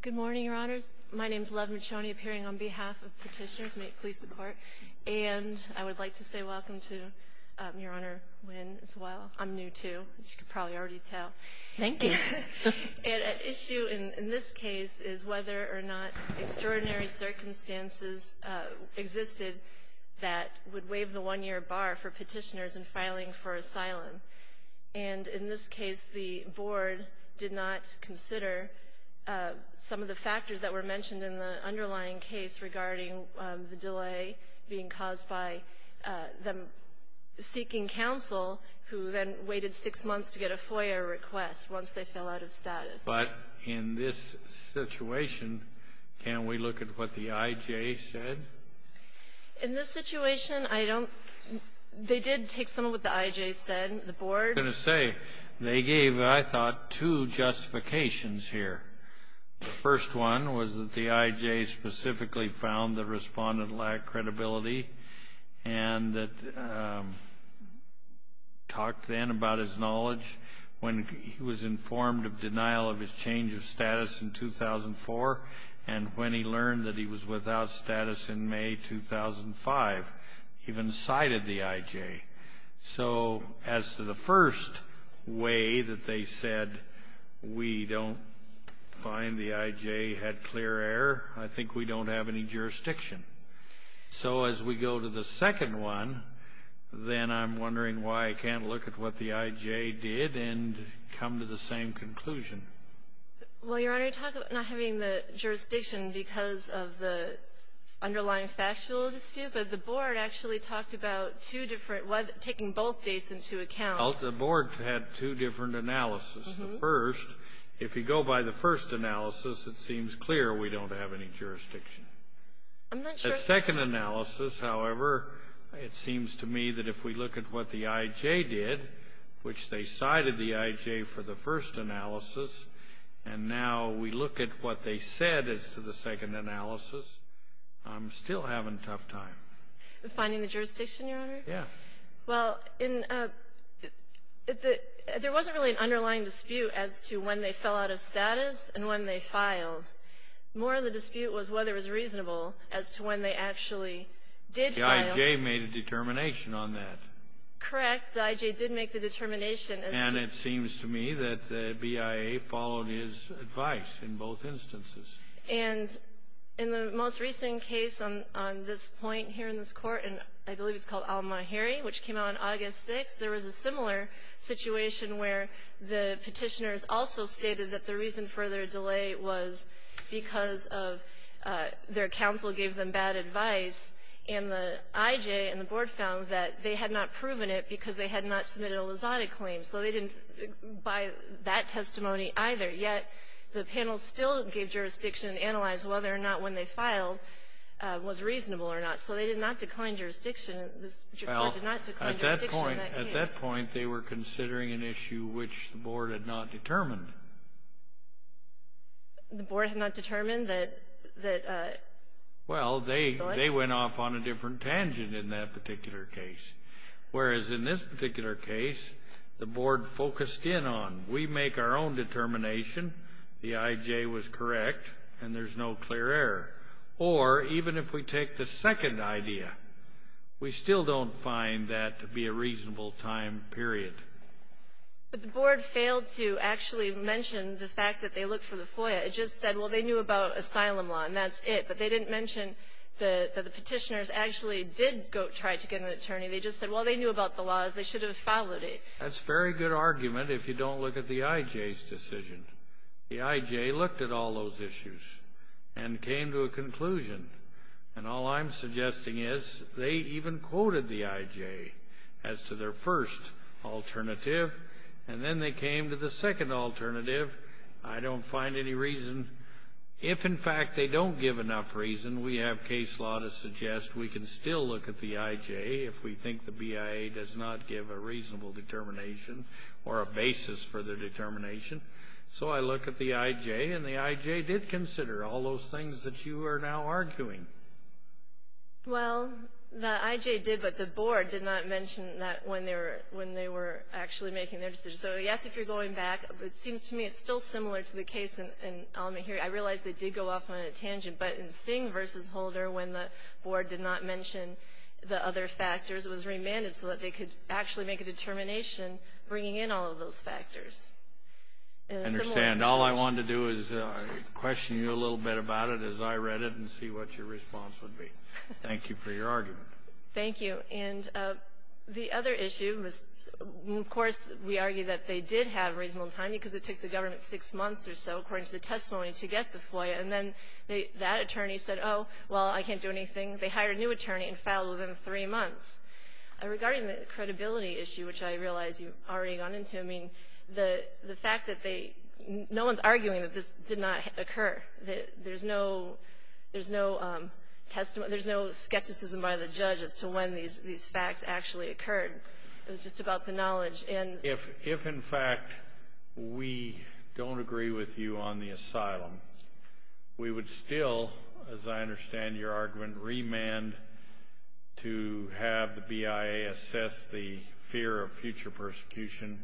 Good morning, Your Honors. My name is Love Michoni, appearing on behalf of Petitioners Make Police the Court, and I would like to say welcome to Your Honor Nguyen, as well. I'm new, too, as you can probably already tell. Thank you. An issue in this case is whether or not extraordinary circumstances existed that would waive the one-year bar for petitioners in filing for asylum, and in this case, the Board did not consider some of the factors that were mentioned in the underlying case regarding the delay being caused by them seeking counsel, who then waited six months to get a FOIA request once they fell out of status. But in this situation, can we look at what the IJ said? In this case, they gave, I thought, two justifications here. The first one was that the IJ specifically found the respondent lacked credibility, and talked then about his knowledge when he was informed of denial of his change of status in 2004, and when he learned that he was without status in May 2005, even cited the IJ. So as to the first way that they said, we don't find the IJ had clear error, I think we don't have any jurisdiction. So as we go to the second one, then I'm wondering why I can't look at what the IJ did and come to the same conclusion. Well, Your Honor, you talk about not having the jurisdiction because of the underlying factual dispute, but the Board actually talked about two different ones, taking both dates into account. Well, the Board had two different analyses. The first, if you go by the first analysis, it seems clear we don't have any jurisdiction. I'm not sure. The second analysis, however, it seems to me that if we look at what the IJ did, which they cited the IJ for the first analysis, and now we look at what they said as to the second analysis, I'm still having a tough time. In finding the jurisdiction, Your Honor? Yeah. Well, in the — there wasn't really an underlying dispute as to when they fell out of status and when they filed. More of the dispute was whether it was reasonable as to when they actually did file. The IJ made a determination on that. Correct. The IJ did make the determination. And it seems to me that the BIA followed his advice in both instances. And in the most recent case on this point here in this Court, and I believe it's called Alma Herry, which came out on August 6th, there was a similar situation where the Petitioners also stated that the reason for their delay was because of their counsel gave them bad advice. And the IJ and the Board found that they had not proven it because they had not submitted a Lizada claim. So they didn't buy that testimony either. Yet, the panel still gave jurisdiction and analyzed whether or not when they filed was reasonable or not. So they did not decline jurisdiction. This Court did not decline jurisdiction in that case. Well, at that point, they were considering an issue which the Board had not determined. The Board had not determined that — Well, they went off on a different tangent in that particular case. Whereas in this particular case, the Board focused in on, we make our own determination, the IJ was correct, and there's no clear error. Or, even if we take the second idea, we still don't find that to be a reasonable time period. But the Board failed to actually mention the fact that they looked for the FOIA. It just said, well, they knew about asylum law, and that's it. But they didn't mention that the petitioners actually did try to get an attorney. They just said, well, they knew about the laws. They should have followed it. That's a very good argument if you don't look at the IJ's decision. The IJ looked at all those issues and came to a conclusion. And all I'm suggesting is, they even quoted the IJ as to their first alternative. And then they came to the second alternative. I don't find any reason. If, in fact, they don't give enough reason, we have case law to suggest we can still look at the IJ if we think the BIA does not give a reasonable determination or a basis for their determination. So I look at the IJ, and the IJ did consider all those things that you are now arguing. Well, the IJ did, but the Board did not mention that when they were actually making their decision. So, yes, if you're going back, it seems to me it's still similar to the case in Al-Mahiri. I realize they did go off on a tangent, but in Singh versus Holder, when the Board did not mention the other factors, it was remanded so that they could actually make a determination bringing in all of those factors. In a similar situation. I understand. All I wanted to do is question you a little bit about it as I read it and see what your response would be. Thank you for your argument. Thank you. And the other issue was, of course, we argue that they did have reasonable time because it took the government six months or so, according to the testimony, to get the FOIA, and then that attorney said, oh, well, I can't do anything. They hired a new attorney and filed within three months. Regarding the credibility issue, which I realize you've already gone into, I mean, the fact that they no one's arguing that this did not occur. There's no skepticism by the judge as to when these facts actually occurred. It was just about the knowledge. If, in fact, we don't agree with you on the asylum, we would still, as I understand your argument, remand to have the BIA assess the fear of future persecution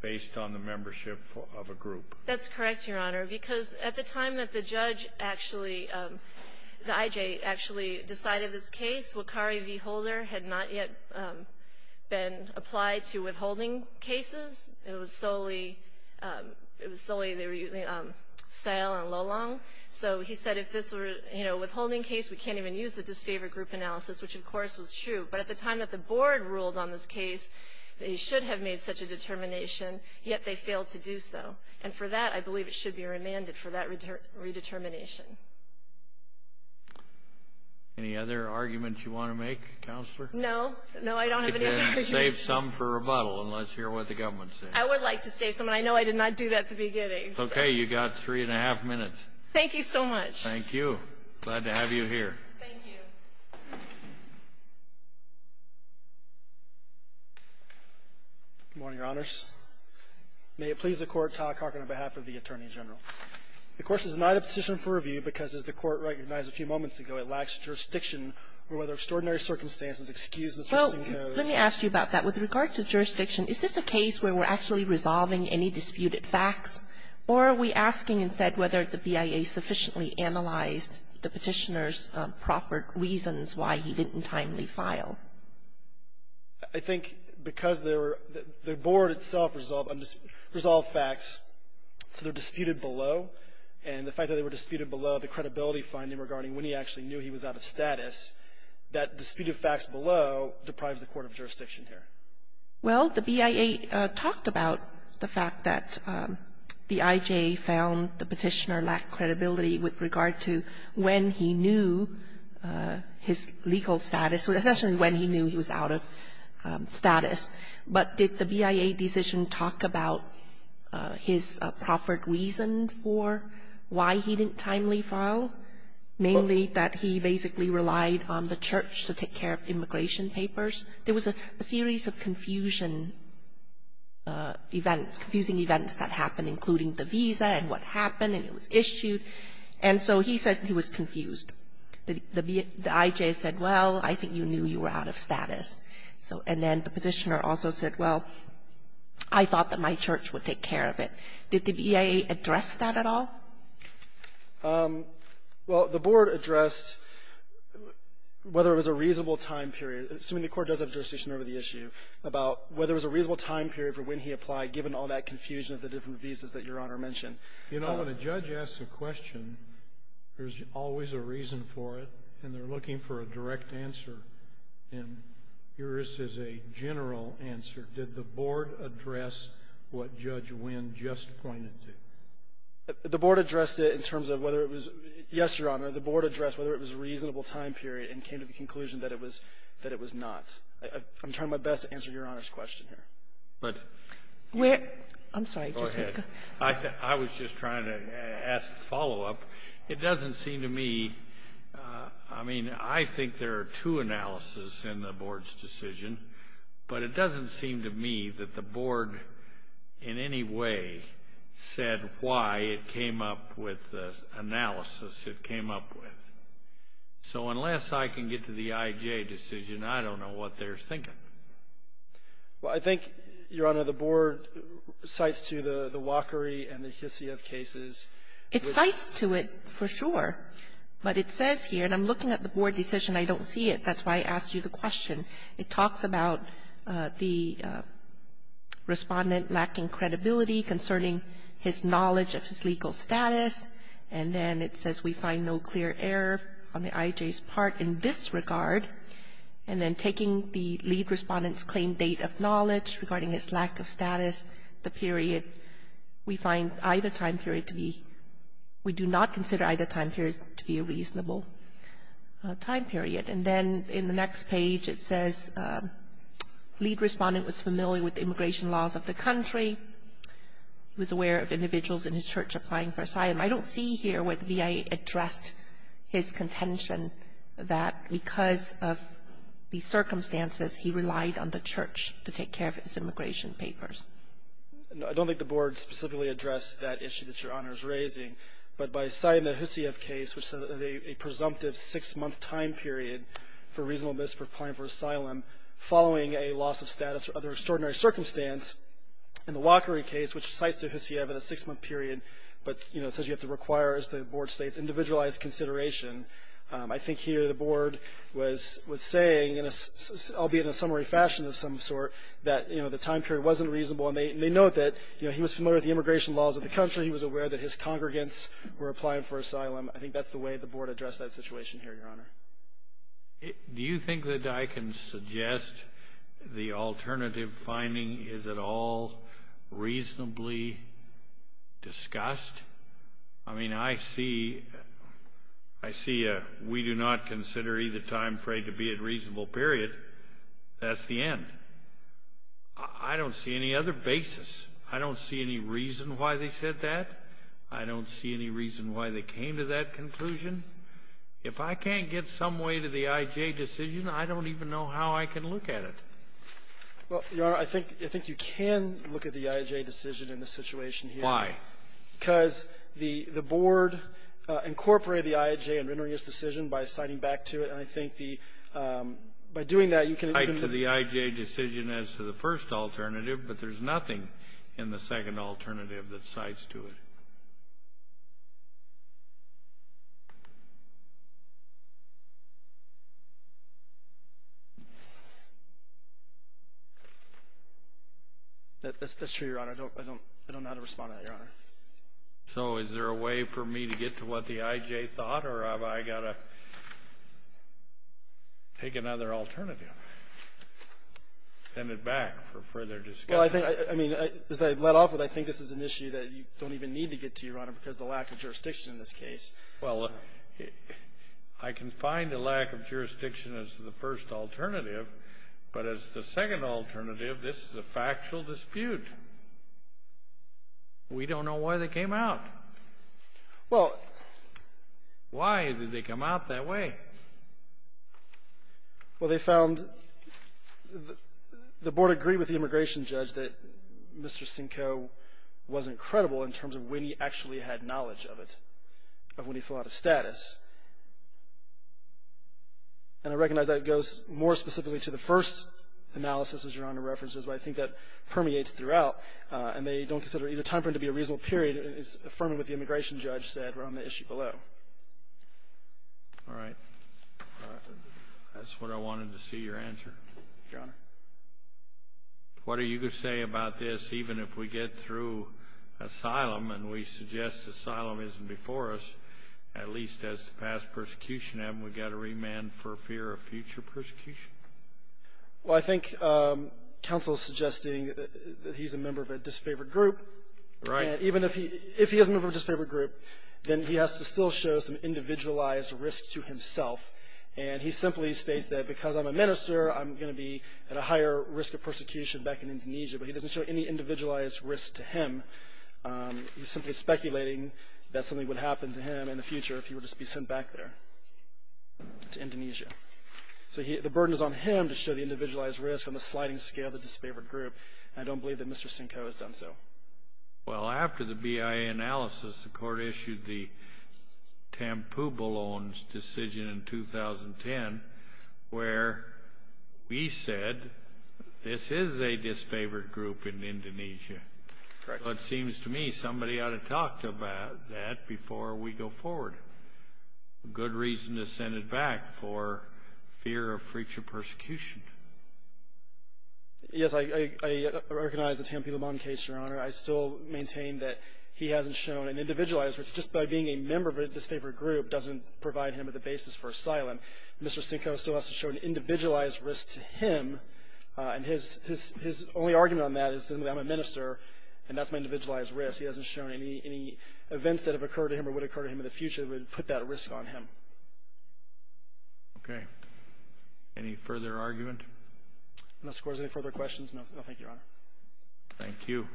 based on the membership of a group. That's correct, Your Honor. Because at the time that the judge actually, the IJ, actually decided this case, Wakari V. Holder had not yet been applied to withholding cases. It was solely, it was solely they were using Seil and Lolong. So he said if this were, you know, withholding case, we can't even use the disfavor group analysis, which, of course, was true. But at the time that the board ruled on this case, they should have made such a determination, yet they failed to do so. And for that, I believe it should be remanded for that redetermination. Any other arguments you want to make, Counselor? No. No, I don't have any other questions. Then save some for rebuttal and let's hear what the government says. I would like to save some, and I know I did not do that at the beginning. Okay. You got three and a half minutes. Thank you so much. Thank you. Glad to have you here. Thank you. Good morning, Your Honors. May it please the Court, Todd Calkin on behalf of the Attorney General. The question is not a petition for review because, as the Court recognized a few moments ago, it lacks jurisdiction, or whether extraordinary circumstances excuse Mr. Sinko's ---- Well, let me ask you about that. With regard to jurisdiction, is this a case where we're actually resolving any disputed facts, or are we asking instead whether the BIA sufficiently analyzed the Petitioner's proffered reasons why he didn't timely file? I think because the Board itself resolved facts, so they're disputed below. And the fact that they were disputed below the credibility finding regarding when he actually knew he was out of status, that dispute of facts below deprives the Court of jurisdiction here. Well, the BIA talked about the fact that the I.J. found the Petitioner lacked credibility, and he knew he was out of status. But did the BIA decision talk about his proffered reason for why he didn't timely file, mainly that he basically relied on the Church to take care of immigration papers? There was a series of confusing events that happened, including the visa and what happened, and it was issued. And so he said he was confused. The I.J. said, well, I think you knew you were out of status. So, and then the Petitioner also said, well, I thought that my Church would take care of it. Did the BIA address that at all? Well, the Board addressed whether it was a reasonable time period, assuming the Court does have jurisdiction over the issue, about whether it was a reasonable time period for when he applied, given all that confusion of the different visas that Your Honor mentioned. You know, when a judge asks a question, there's always a reason for it, and they're looking for a direct answer, and yours is a general answer. Did the Board address what Judge Wynn just pointed to? The Board addressed it in terms of whether it was — yes, Your Honor, the Board addressed whether it was a reasonable time period and came to the conclusion that it was — that it was not. I'm trying my best to answer Your Honor's question here. But — Where — I'm sorry. Go ahead. I was just trying to ask a follow-up. It doesn't seem to me — I mean, I think there are two analyses in the Board's decision, but it doesn't seem to me that the Board in any way said why it came up with the analysis it came up with. So unless I can get to the IJ decision, I don't know what they're thinking. Well, I think, Your Honor, the Board cites to the Walkeri and the Hisia cases. It cites to it for sure, but it says here, and I'm looking at the Board decision. I don't see it. That's why I asked you the question. It talks about the Respondent lacking credibility concerning his knowledge of his legal status, and then it says we find no clear error on the IJ's part in this Respondent's claimed date of knowledge regarding his lack of status. The period, we find either time period to be — we do not consider either time period to be a reasonable time period. And then in the next page, it says Lead Respondent was familiar with the immigration laws of the country, was aware of individuals in his church applying for asylum. I don't see here what VA addressed his contention that because of the circumstances, he relied on the church to take care of his immigration papers. I don't think the Board specifically addressed that issue that Your Honor is raising, but by citing the Hisia case, which said that a presumptive six-month time period for reasonableness for applying for asylum following a loss of status or other extraordinary circumstance, and the Walkeri case, which cites the Hisia for the six-month period, but, you know, says you have to require, as the Board states, individualized consideration. I think here the Board was saying, albeit in a summary fashion of some sort, that, you know, the time period wasn't reasonable. And they note that, you know, he was familiar with the immigration laws of the country. He was aware that his congregants were applying for asylum. I think that's the way the Board addressed that situation here, Your Honor. Do you think that I can suggest the alternative finding is it all reasonably discussed? I mean, I see we do not consider either time frame to be a reasonable period. That's the end. I don't see any other basis. I don't see any reason why they said that. I don't see any reason why they came to that conclusion. If I can't get some way to the I.J. decision, I don't even know how I can look at it. Well, Your Honor, I think you can look at the I.J. decision in this situation here. Why? Because the Board incorporated the I.J. in rendering its decision by citing back to it. And I think the by doing that, you can even Cite to the I.J. decision as to the first alternative, but there's nothing in the second alternative that cites to it. That's true, Your Honor. I don't know how to respond to that, Your Honor. So is there a way for me to get to what the I.J. thought, or have I got to take another alternative, send it back for further discussion? Well, I think, I mean, as I've let off with, I think this is an issue that you don't even need to get to, Your Honor, because the lack of jurisdiction in this case. Well, I can find the lack of jurisdiction as the first alternative, but as the second alternative, this is a factual dispute. We don't know why they came out. Well, why did they come out that way? Well, they found, the Board agreed with the immigration judge that Mr. Sincoe was incredible in terms of when he actually had knowledge of it, of when he filled out his status. And I recognize that it goes more specifically to the first analysis, as Your Honor references, but I think that permeates throughout, and they don't consider either time frame to be a reasonable period. It's affirming what the immigration judge said around the issue below. All right. That's what I wanted to see your answer. Your Honor. What are you going to say about this, even if we get through asylum, and we suggest asylum isn't before us, at least as to past persecution, haven't we got to remand for fear of future persecution? Well, I think counsel is suggesting that he's a member of a disfavored group. Right. And even if he is a member of a disfavored group, then he has to still show some individualized risk to himself. And he simply states that because I'm a minister, I'm going to be at a higher risk of persecution back in Indonesia. But he doesn't show any individualized risk to him. He's simply speculating that something would happen to him in the future if he were to be sent back there to Indonesia. So he the burden is on him to show the individualized risk on the sliding scale of the disfavored group, and I don't believe that Mr. Sinko has done so. Well, after the BIA analysis, the Court issued the Tampubalon's decision in 2010, where we said this is a disfavored group in Indonesia. Correct. Well, it seems to me somebody ought to talk about that before we go forward. A good reason to send it back for fear of future persecution. Yes, I recognize the Tampubalon case, Your Honor. I still maintain that he hasn't shown an individualized risk. Just by being a member of a disfavored group doesn't provide him with a basis for asylum. Mr. Sinko still has to show an individualized risk to him, and his only argument on that is simply I'm a minister, and that's my individualized risk. He hasn't shown any events that have occurred to him or would occur to him in the future that would put that risk on him. Okay. Any further argument? Unless, of course, there's any further questions, no. No, thank you, Your Honor. Thank you.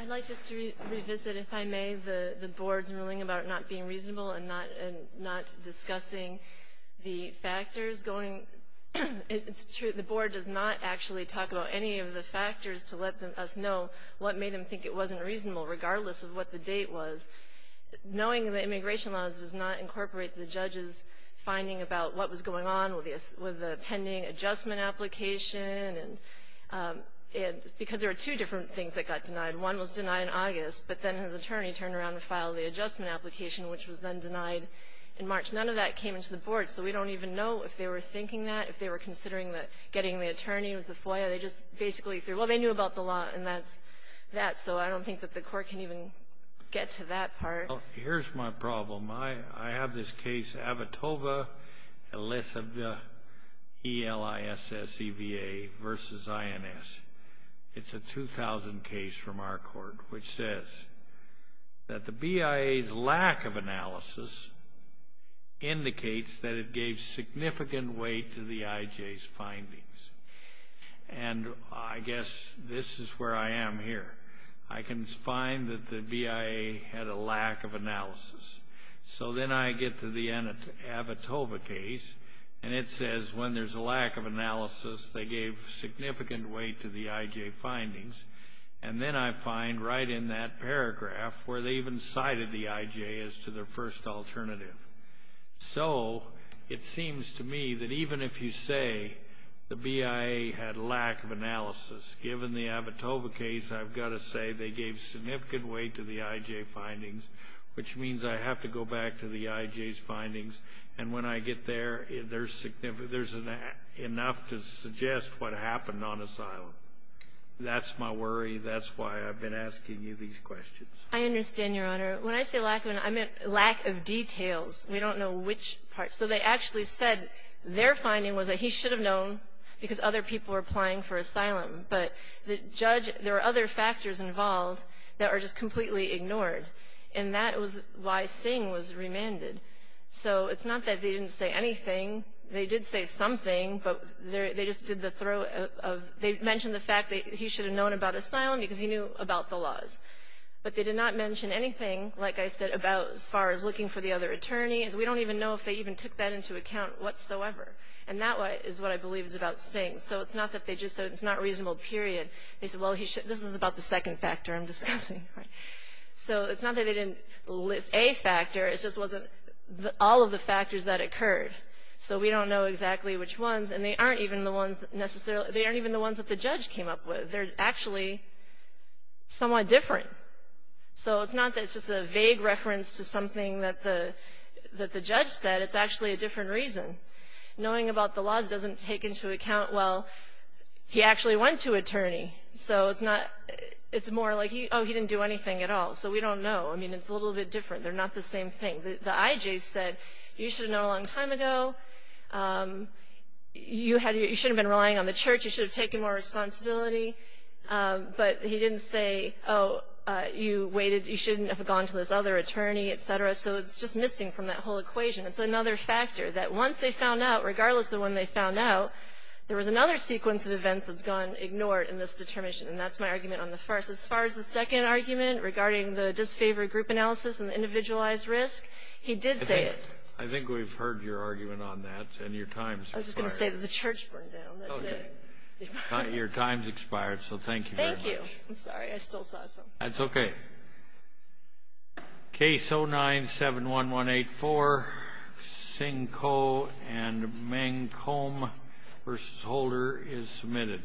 I'd like just to revisit, if I may, the Board's ruling about it not being reasonable and not discussing the factors going — it's true, the Board does not actually talk about any of the factors to let us know what made them think it wasn't reasonable, regardless of what the date was. Knowing the immigration laws does not incorporate the judge's finding about what was going on with the pending adjustment application and — because there are two different things that got denied. One was denied in August, but then his attorney turned around and filed the adjustment application, which was then denied in March. None of that came into the Board, so we don't even know if they were thinking that, if they were considering getting the attorney, it was the FOIA. They just basically said, well, they knew about the law, and that's that. So I don't think that the Court can even get to that part. Well, here's my problem. I have this case, Avotova-Elisevia, E-L-I-S-S-E-V-A, versus INS. It's a 2000 case from our court, which says that the BIA's lack of analysis indicates that it gave significant weight to the IJ's findings. And I guess this is where I am here. I can find that the BIA had a lack of analysis. So then I get to the Avotova case, and it says when there's a lack of analysis, they gave significant weight to the IJ findings. And then I find right in that paragraph where they even cited the IJ as to their first alternative. So it seems to me that even if you say the BIA had lack of analysis, given the Avotova case, I've got to say they gave significant weight to the IJ findings, which means I have And when I get there, there's enough to suggest what happened on asylum. That's my worry. That's why I've been asking you these questions. I understand, Your Honor. When I say lack of analysis, I meant lack of details. We don't know which part. So they actually said their finding was that he should have known because other people were applying for asylum, but the judge, there were other factors involved that are just completely ignored. And that was why Singh was remanded. So it's not that they didn't say anything. They did say something, but they just did the throw of, they mentioned the fact that he should have known about asylum because he knew about the laws. But they did not mention anything, like I said, about as far as looking for the other attorney, as we don't even know if they even took that into account whatsoever. And that is what I believe is about Singh. So it's not that they just said it's not reasonable, period. They said, well, this is about the second factor I'm discussing. So it's not that they didn't list a factor. It just wasn't all of the factors that occurred. So we don't know exactly which ones. And they aren't even the ones necessarily, they aren't even the ones that the judge came up with. They're actually somewhat different. So it's not that it's just a vague reference to something that the judge said. It's actually a different reason. Knowing about the laws doesn't take into account, well, he actually went to attorney. So it's not, it's more like, oh, he didn't do anything at all. So we don't know. I mean, it's a little bit different. They're not the same thing. The IJ said, you should have known a long time ago. You should have been relying on the church. You should have taken more responsibility. But he didn't say, oh, you waited, you shouldn't have gone to this other attorney, etc. So it's just missing from that whole equation. It's another factor that once they found out, regardless of when they found out, there was another sequence of events that's gone ignored in this determination. And that's my argument on the first. As far as the second argument regarding the disfavored group analysis and the individualized risk, he did say it. I think we've heard your argument on that. And your time's expired. I was just going to say that the church burned down. That's it. Okay. Your time's expired. So thank you very much. Thank you. I'm sorry, I still saw something. That's okay. Case 09-71184, Singh Koh and Meng Kolm v. Holder is submitted.